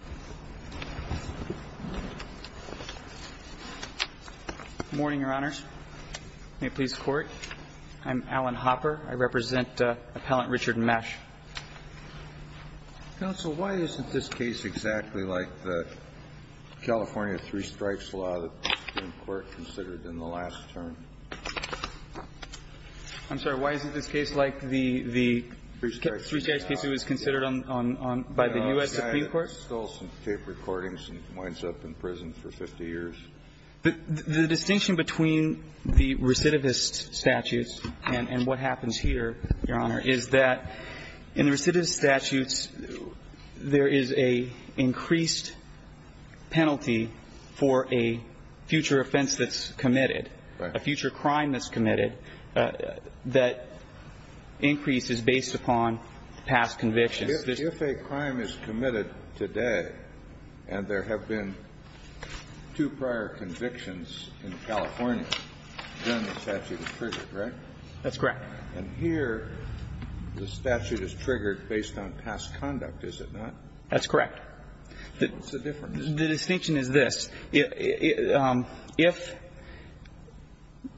Good morning, Your Honor. May it please the Court. I'm Alan Hopper. I represent Appellant Richard Mesh. Counsel, why isn't this case exactly like the California Three Strikes Law that the Supreme Court considered in the last term? I'm sorry, why isn't this case like the Three Strikes case that was considered by the U.S. Supreme Court? The guy that stole some tape recordings and winds up in prison for 50 years? The distinction between the recidivist statutes and what happens here, Your Honor, is that in the recidivist statutes, there is a increased penalty for a future offense that's committed, a future crime that's committed, that increase is based upon past convictions. If a crime is committed today and there have been two prior convictions in California, then the statute is triggered, right? That's correct. And here, the statute is triggered based on past conduct, is it not? That's correct. What's the difference? The distinction is this. If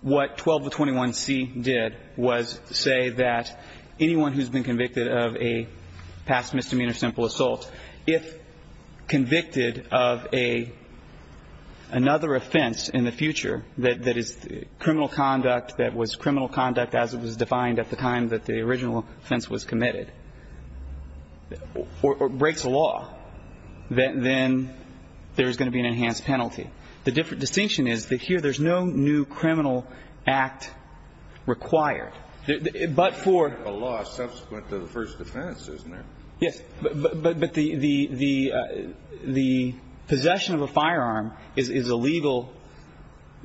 what 1221C did was say that anyone who's been convicted of a past misdemeanor simple assault, if convicted of another offense in the future that is criminal conduct that was criminal conduct as it was defined at the time that the original offense was committed, or breaks a law, then there's going to be an enhanced penalty. The distinction is that here there's no new criminal act required. But for the law subsequent to the first offense, isn't there? Yes. But the possession of a firearm is illegal.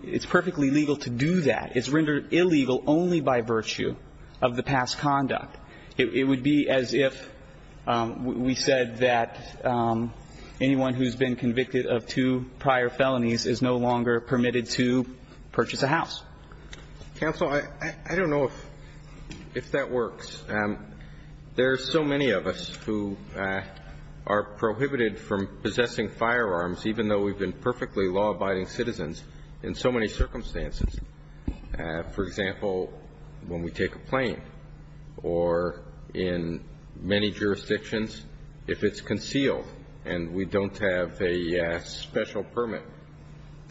It's perfectly legal to do that. It's rendered illegal only by virtue of the past conduct. It would be as if we said that anyone who's been convicted of two prior felonies is no longer permitted to purchase a house. Counsel, I don't know if that works. There are so many of us who are prohibited from possessing firearms, even though we've been perfectly law-abiding citizens in so many circumstances. For example, when we take a plane, or in many jurisdictions, if it's concealed and we don't have a special permit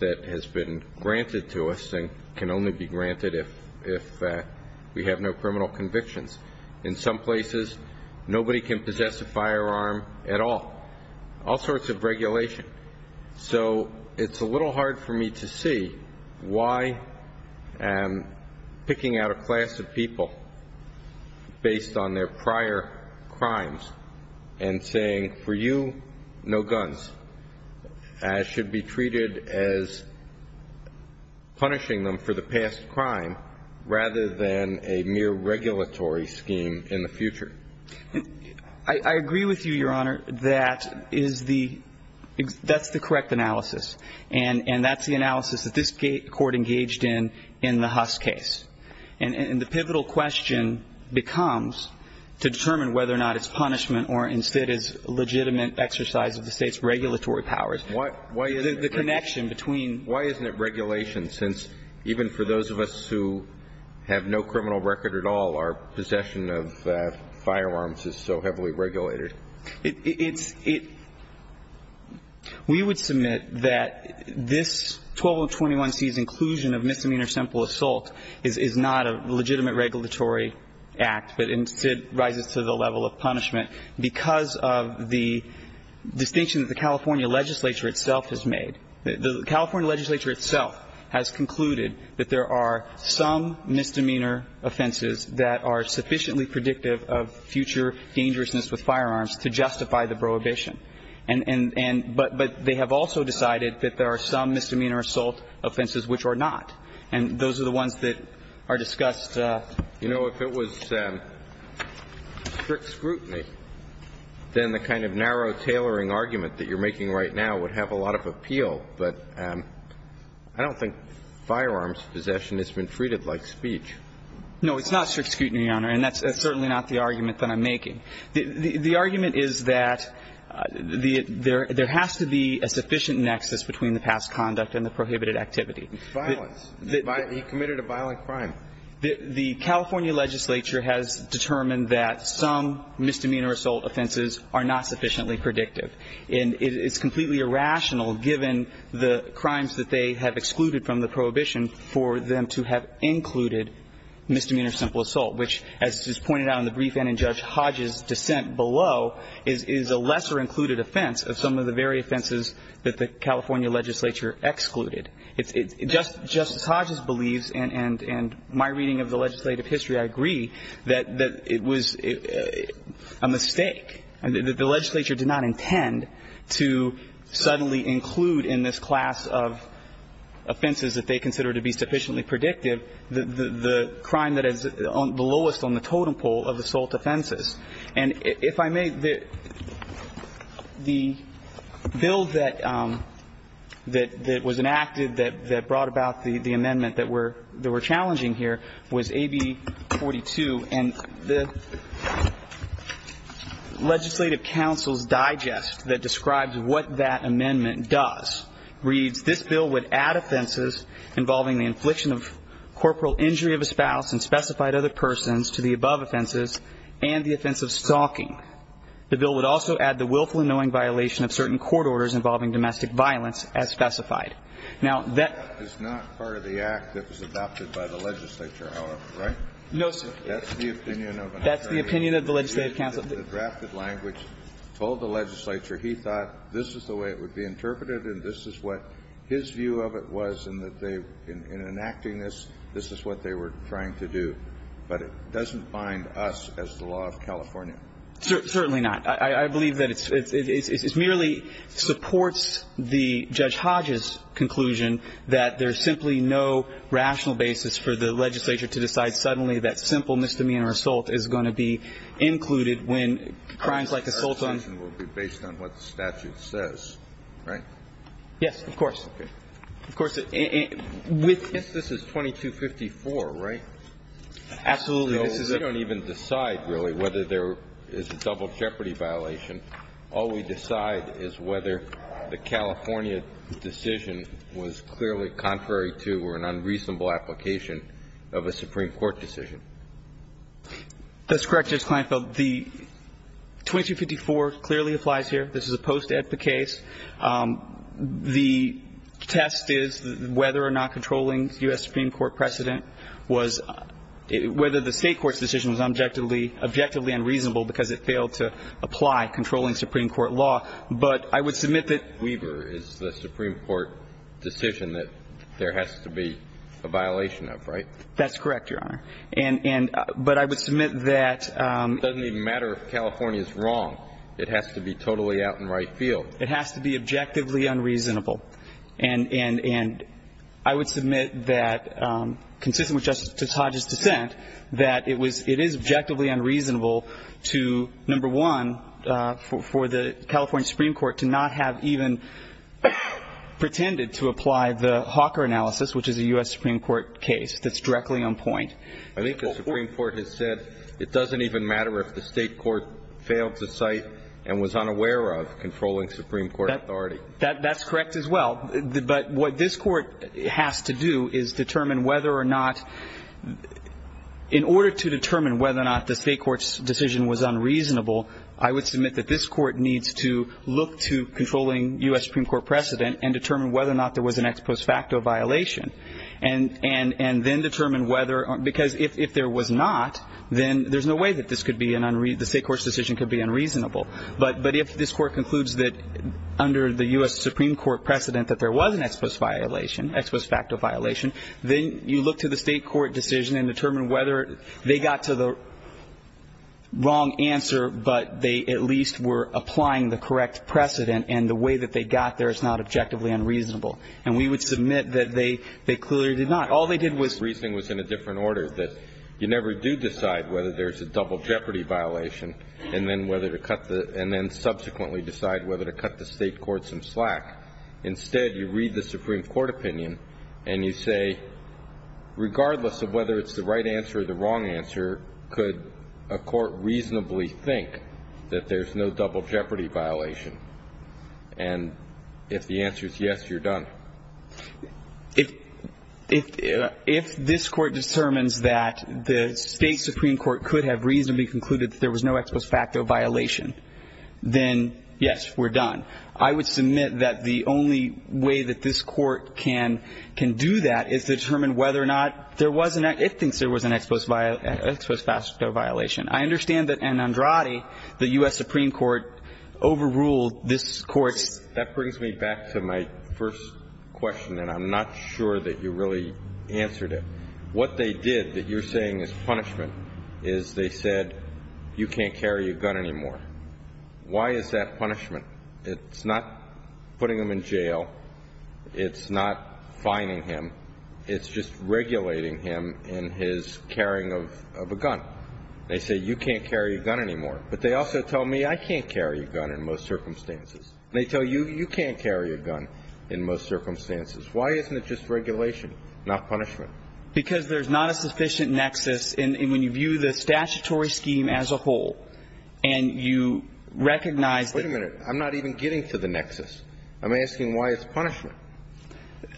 that has been granted to us then we can only be granted if we have no criminal convictions. In some places, nobody can possess a firearm at all. All sorts of regulation. So it's a little hard for me to see why I'm picking out a class of people based on their prior crimes and saying, for you, no guns, as should be treated as punishing them for the past crime rather than a mere regulatory scheme in the future. I agree with you, Your Honor. That's the correct analysis. And that's the analysis that this Court engaged in in the Huss case. And the pivotal question becomes, to determine whether or not it's punishment or instead is legitimate exercise of the State's regulatory powers, the connection between Why isn't it regulation? Since even for those of us who have no criminal record at all, our possession of firearms is so heavily regulated. We would submit that this 1221C's inclusion of misdemeanor simple assault is not a legitimate regulatory act, but instead rises to the level of punishment because of the distinction that the California legislature itself has made. The California legislature itself has concluded that there are some misdemeanor offenses that are sufficiently predictive of future dangerousness with firearms to justify the prohibition. And they have also decided that there are some misdemeanor assault offenses which are not. And those are the ones that are discussed. You know, if it was strict scrutiny, then the kind of narrow tailoring argument that you're making right now would have a lot of appeal. But I don't think firearms possession has been treated like speech. No, it's not strict scrutiny, Your Honor. And that's certainly not the argument that I'm making. The argument is that there has to be a sufficient nexus between the past conduct and the prohibited activity. Violence. He committed a violent crime. The California legislature has determined that some misdemeanor assault offenses are not sufficiently predictive. And it's completely irrational, given the crimes that they have excluded from the prohibition, for them to have included misdemeanor simple assault, which, as is pointed out in the brief and in Judge Hodges' dissent below, is a lesser included offense of some of the very offenses that the California legislature excluded. Justice Hodges believes, and my reading of the legislative history, I agree, that it was a mistake. The legislature did not intend to suddenly include in this class of offenses that they consider to be sufficiently predictive the crime that is the lowest on the totem pole of assault offenses. And if I may, the bill that was enacted that brought about the amendment that we're challenging here was AB42. And the legislative counsel's digest that describes what that amendment does reads, this bill would add offenses involving the infliction of corporal injury of a spouse and specified other persons to the above offenses and the offense of stalking. The bill would also add the willful and knowing violation of certain court orders involving domestic violence as specified. Now, that is not part of the act that was adopted by the legislature, however, right? No, sir. That's the opinion of an attorney. That's the opinion of the legislative counsel. The drafted language told the legislature he thought this is the way it would be interpreted and this is what his view of it was and that they, in enacting this, this is what they were trying to do. But it doesn't bind us as the law of California. Certainly not. I believe that it merely supports the Judge Hodges' conclusion that there is simply no rational basis for the legislature to decide suddenly that simple misdemeanor assault is going to be included when crimes like assault on the statute says, right? Yes, of course. Of course. This is 2254, right? Absolutely. We don't even decide really whether there is a double jeopardy violation. All we decide is whether the California decision was clearly contrary to or an unreasonable application of a Supreme Court decision. That's correct, Judge Kleinfeld. The 2254 clearly applies here. This is a post-edpa case. The test is whether or not controlling U.S. Supreme Court precedent was – whether the State court's decision was objectively unreasonable because it failed to apply controlling Supreme Court law. But I would submit that – Weber is the Supreme Court decision that there has to be a violation of, right? That's correct, Your Honor. And – but I would submit that – It doesn't even matter if California is wrong. It has to be totally out in right field. It has to be objectively unreasonable. And I would submit that, consistent with Justice Hodge's dissent, that it was – it is objectively unreasonable to, number one, for the California Supreme Court to not have even pretended to apply the Hawker analysis, which is a U.S. Supreme Court case that's directly on point. I think the Supreme Court has said it doesn't even matter if the State court failed to cite and was unaware of controlling Supreme Court authority. That's correct as well. But what this court has to do is determine whether or not – in order to determine whether or not the State court's decision was unreasonable, I would submit that this court needs to look to controlling U.S. Supreme Court precedent and determine whether or not there was an ex post facto violation and then determine whether – because if there was not, then there's no way that this could be an – the State court's decision could be unreasonable. But if this court concludes that under the U.S. Supreme Court precedent that there was an ex post violation, ex post facto violation, then you look to the State court decision and determine whether they got to the wrong answer, but they at least were applying the correct precedent, and the way that they got there is not objectively unreasonable. And we would submit that they clearly did not. All they did was – The reasoning was in a different order, that you never do decide whether there's a double jeopardy violation and then whether to cut the – and then subsequently decide whether to cut the State court some slack. Instead, you read the Supreme Court opinion and you say, regardless of whether it's the right answer or the wrong answer, could a court reasonably think that there's no double jeopardy violation? And if the answer is yes, you're done. If – if this court determines that the State Supreme Court could have reasonably concluded that there was no ex post facto violation, then yes, we're done. I would submit that the only way that this court can – can do that is to determine whether or not there was an – it thinks there was an ex post – ex post facto violation. I understand that in Andrade, the U.S. Supreme Court overruled this court's That brings me back to my first question, and I'm not sure that you really answered it. What they did that you're saying is punishment is they said, you can't carry a gun anymore. Why is that punishment? It's not putting him in jail. It's not fining him. It's just regulating him in his carrying of a gun. They say, you can't carry a gun anymore. But they also tell me I can't carry a gun in most circumstances. And they tell you, you can't carry a gun in most circumstances. Why isn't it just regulation, not punishment? Because there's not a sufficient nexus. And when you view the statutory scheme as a whole, and you recognize that – Wait a minute. I'm not even getting to the nexus. I'm asking why it's punishment.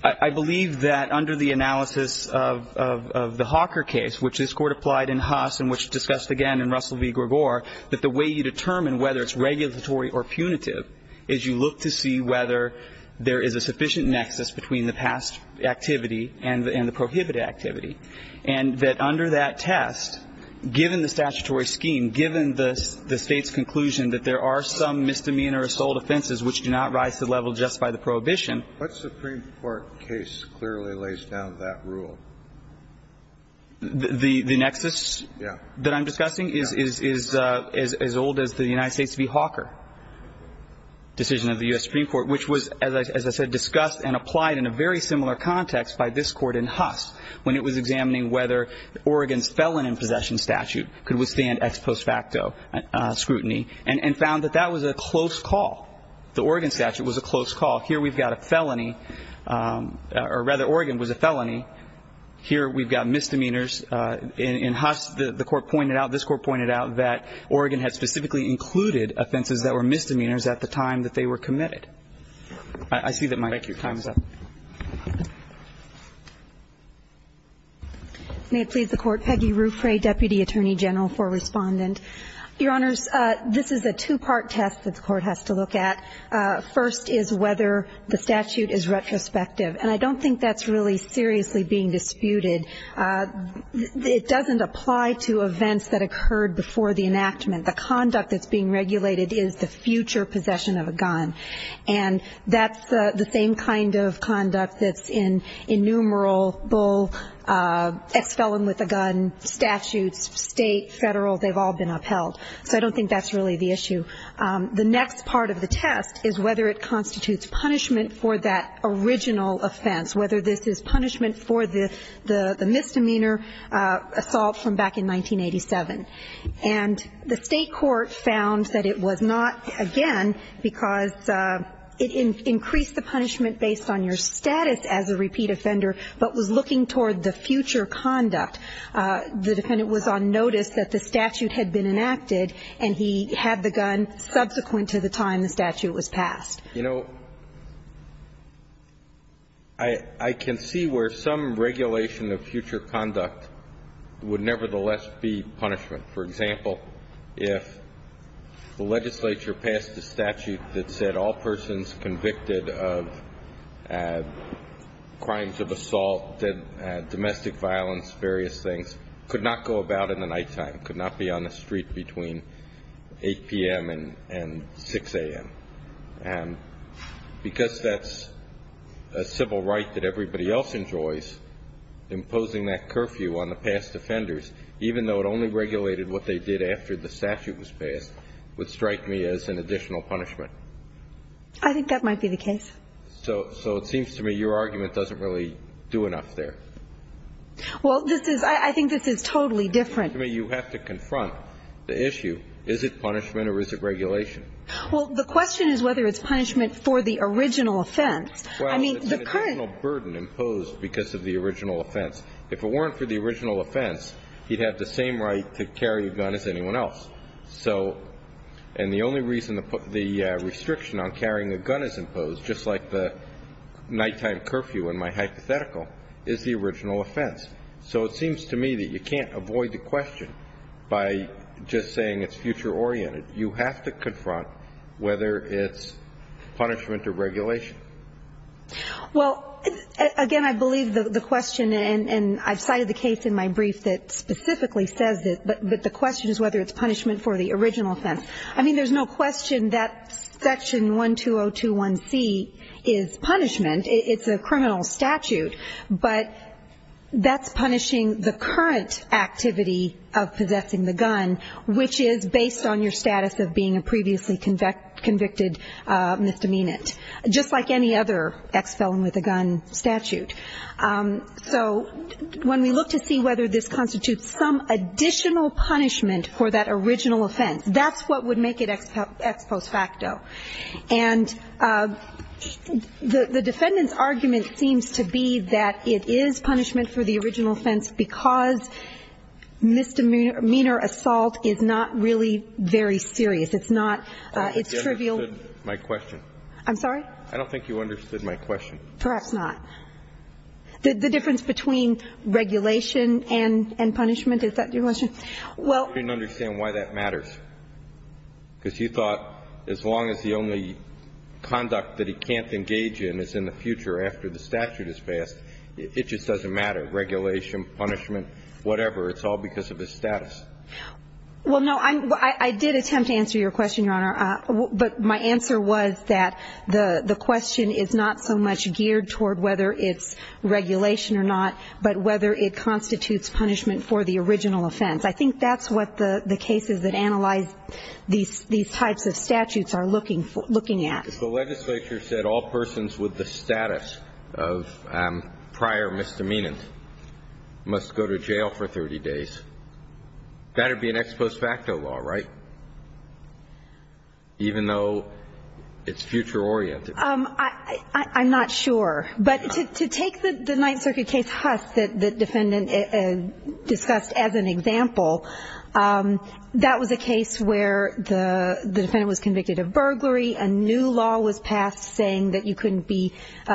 I believe that under the analysis of – of the Hawker case, which this Court applied in Haas and which discussed again in Russell v. Gregor, that the way you determine whether it's regulatory or punitive is you look to see whether there is a sufficient nexus between the past activity and the prohibited activity. And that under that test, given the statutory scheme, given the State's conclusion that there are some misdemeanor assault offenses which do not rise to the level just by the prohibition – What Supreme Court case clearly lays down that rule? The – the nexus that I'm discussing is as old as the United States v. Hawker decision of the U.S. Supreme Court, which was, as I said, discussed and applied in a very similar context by this Court in Haas when it was examining whether Oregon's felon in possession statute could withstand ex post facto scrutiny and found that that was a close call. The Oregon statute was a close call. Here we've got a felony – or rather, Oregon was a felony. Here we've got misdemeanors. In Haas, the Court pointed out – this Court pointed out that Oregon had specifically included offenses that were misdemeanors at the time that they were committed. I see that my time is up. Thank you. May it please the Court. Peggy Ruffray, Deputy Attorney General for Respondent. Your Honors, this is a two-part test that the Court has to look at. First is whether the statute is retrospective. And I don't think that's really seriously being disputed. It doesn't apply to events that occurred before the enactment. The conduct that's being regulated is the future possession of a gun. And that's the same kind of conduct that's in innumerable ex felon with a gun statutes, state, federal. They've all been upheld. So I don't think that's really the issue. The next part of the test is whether it constitutes punishment for that original offense, whether this is punishment for the misdemeanor assault from back in 1987. And the State Court found that it was not, again, because it increased the punishment based on your status as a repeat offender, but was looking toward the future conduct. The defendant was on notice that the statute had been enacted, and he had the gun subsequent to the time the statute was passed. You know, I can see where some regulation of future conduct would nevertheless be punishment. For example, if the legislature passed a statute that said all persons convicted of crimes of assault, domestic violence, various things, could not go about in the nighttime, could not be on the street between 8 p.m. and 6 a.m. And because that's a civil right that everybody else enjoys, imposing that curfew on the past offenders, even though it only regulated what they did after the statute was passed, would strike me as an additional punishment. I think that might be the case. So it seems to me your argument doesn't really do enough there. Well, this is – I think this is totally different. I mean, you have to confront the issue. Is it punishment or is it regulation? Well, the question is whether it's punishment for the original offense. I mean, the current – Well, it's an additional burden imposed because of the original offense. If it weren't for the original offense, he'd have the same right to carry a gun as anyone else. So – and the only reason the restriction on carrying a gun is imposed, just like the nighttime curfew in my hypothetical, is the original offense. So it seems to me that you can't avoid the question by just saying it's future oriented. You have to confront whether it's punishment or regulation. Well, again, I believe the question, and I've cited the case in my brief that specifically says it, but the question is whether it's punishment for the original offense. I mean, there's no question that Section 12021C is punishment. It's a criminal statute, but that's punishing the current activity of possessing the gun, which is based on your status of being a previously convicted misdemeanant, just like any other ex-felon with a gun statute. So when we look to see whether this constitutes some additional punishment for that original offense, that's what would make it ex post facto. And the defendant's argument seems to be that it is punishment for the original offense because misdemeanor assault is not really very serious. It's not – it's trivial. I don't think you understood my question. I'm sorry? I don't think you understood my question. Perhaps not. The difference between regulation and punishment, is that your question? Well – I didn't understand why that matters, because you thought as long as the only conduct that he can't engage in is in the future after the statute is passed, it just doesn't matter. Regulation, punishment, whatever, it's all because of his status. Well, no, I did attempt to answer your question, Your Honor, but my answer was that the question is not so much geared toward whether it's regulation or not, but whether it constitutes punishment for the original offense. I think that's what the cases that analyze these types of statutes are looking at. If the legislature said all persons with the status of prior misdemeanors must go to jail for 30 days, that would be an ex post facto law, right? Even though it's future oriented. I'm not sure. But to take the Ninth Circuit case, Huss, that the defendant discussed as an example, that was a case where the defendant was convicted of burglary, a new law was passed saying that you couldn't be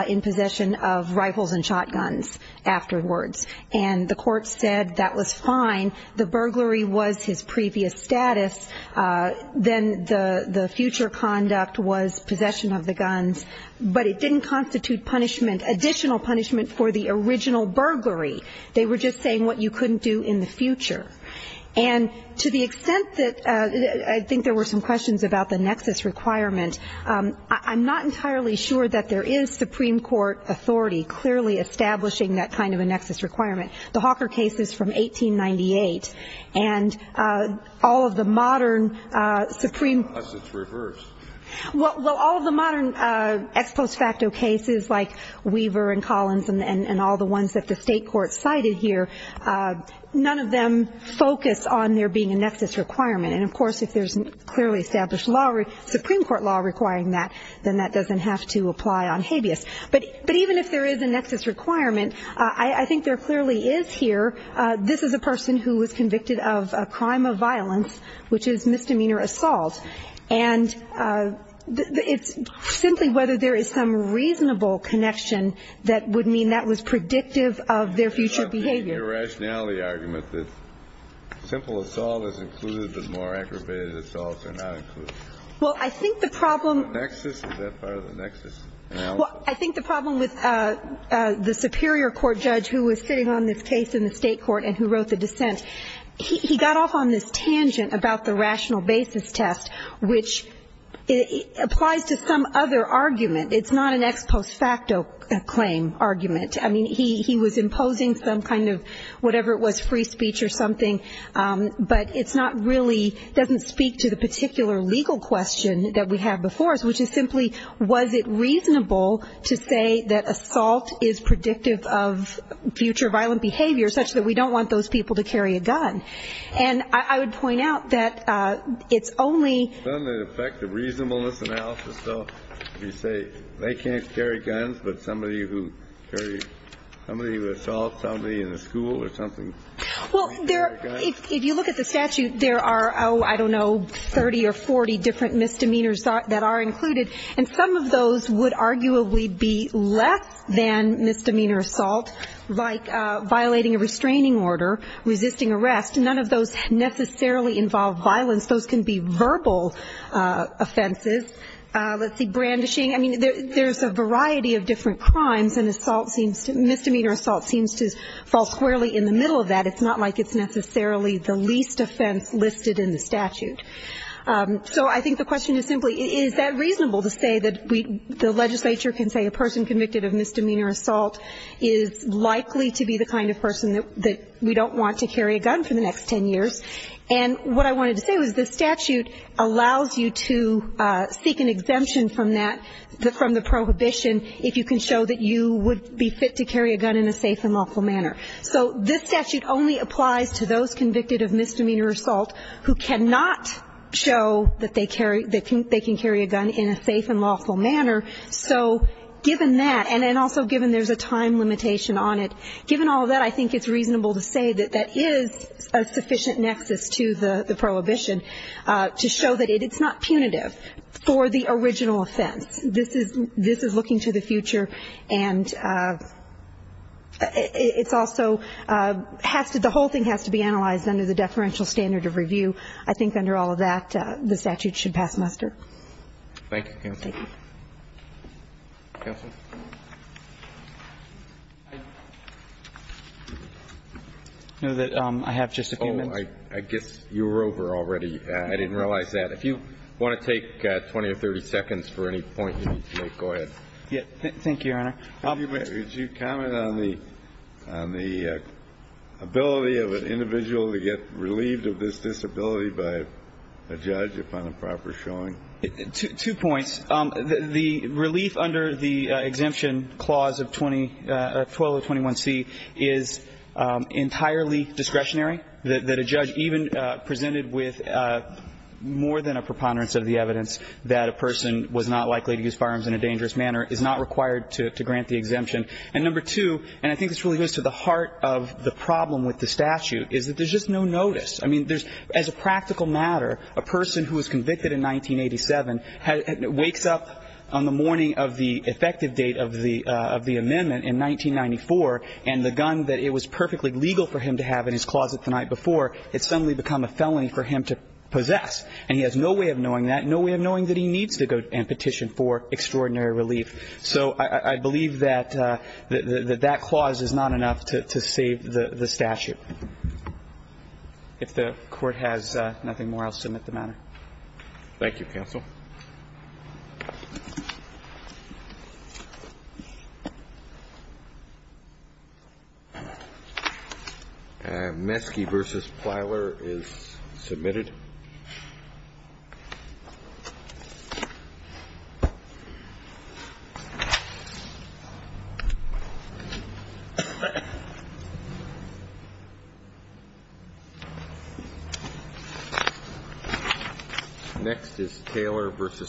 in possession of rifles and shotguns afterwards. And the court said that was fine. The burglary was his previous status. Then the future conduct was possession of the guns. But it didn't constitute punishment, additional punishment for the original burglary. They were just saying what you couldn't do in the future. And to the extent that I think there were some questions about the nexus requirement, I'm not entirely sure that there is Supreme Court authority clearly establishing that kind of a nexus requirement. The Hawker case is from 1898. And all of the modern Supreme Court. Unless it's reversed. Well, all of the modern ex post facto cases like Weaver and Collins and all the ones that the state courts cited here, none of them focus on there being a nexus requirement. And, of course, if there's clearly established law, Supreme Court law requiring that, then that doesn't have to apply on habeas. But even if there is a nexus requirement, I think there clearly is here. This is a person who was convicted of a crime of violence, which is misdemeanor assault. And it's simply whether there is some reasonable connection that would mean that was predictive of their future behavior. The irrationality argument that simple assault is included, but more aggravated assaults are not included. Well, I think the problem. Is that part of the nexus analysis? Well, I think the problem with the superior court judge who was sitting on this case in the state court and who wrote the dissent, he got off on this tangent about the rational basis test, which applies to some other argument. It's not an ex post facto claim argument. I mean, he was imposing some kind of whatever it was, free speech or something, but it's not really doesn't speak to the particular legal question that we have before us, which is simply was it reasonable to say that assault is predictive of future violent behavior, such that we don't want those people to carry a gun. And I would point out that it's only. The effect of reasonableness analysis, though, you say they can't carry guns, but somebody who carry somebody assault somebody in the school or something. Well, if you look at the statute, there are, oh, I don't know, 30 or 40 different misdemeanors that are included. And some of those would arguably be less than misdemeanor assault, like violating a restraining order, resisting arrest. None of those necessarily involve violence. Those can be verbal offenses. Let's see, brandishing, I mean, there's a variety of different crimes, and assault seems to misdemeanor assault seems to fall squarely in the middle of that. It's not like it's necessarily the least offense listed in the statute. So I think the question is simply is that reasonable to say that the legislature can say a person convicted of misdemeanor assault is likely to be the kind of person that we don't want to carry a gun for the next 10 years. And what I wanted to say was the statute allows you to seek an exemption from that, from the prohibition if you can show that you would be fit to carry a gun in a safe and lawful manner. So this statute only applies to those convicted of misdemeanor assault who cannot show that they carry, that they can carry a gun in a safe and lawful manner. So given that, and then also given there's a time limitation on it, given all of that, I think it's reasonable to say that that is a sufficient nexus to the prohibition to show that it's not punitive for the original offense. This is looking to the future. And it's also has to, the whole thing has to be analyzed under the deferential standard of review. I think under all of that, the statute should pass muster. Thank you, counsel. Thank you. Counsel. I know that I have just a few minutes. Oh, I guess you were over already. I didn't realize that. If you want to take 20 or 30 seconds for any point you need to make, go ahead. Thank you, Your Honor. Could you comment on the ability of an individual to get relieved of this disability by a judge upon a proper showing? Two points. The relief under the exemption clause of 1221C is entirely discretionary, that a judge even presented with more than a preponderance of the evidence that a person was not likely to use firearms in a dangerous manner is not required to grant the exemption. And number two, and I think this really goes to the heart of the problem with the statute, is that there's just no notice. I mean, as a practical matter, a person who was convicted in 1987 wakes up on the morning of the effective date of the amendment in 1994, and the gun that it was perfectly legal for him to have in his closet the night before, it's suddenly become a felony for him to possess. And he has no way of knowing that, no way of knowing that he needs to go and petition for extraordinary relief. So I believe that that clause is not enough to save the statute. If the Court has nothing more, I'll submit the matter. MSC versus Plyler is submitted. Next is Taylor versus Plyler.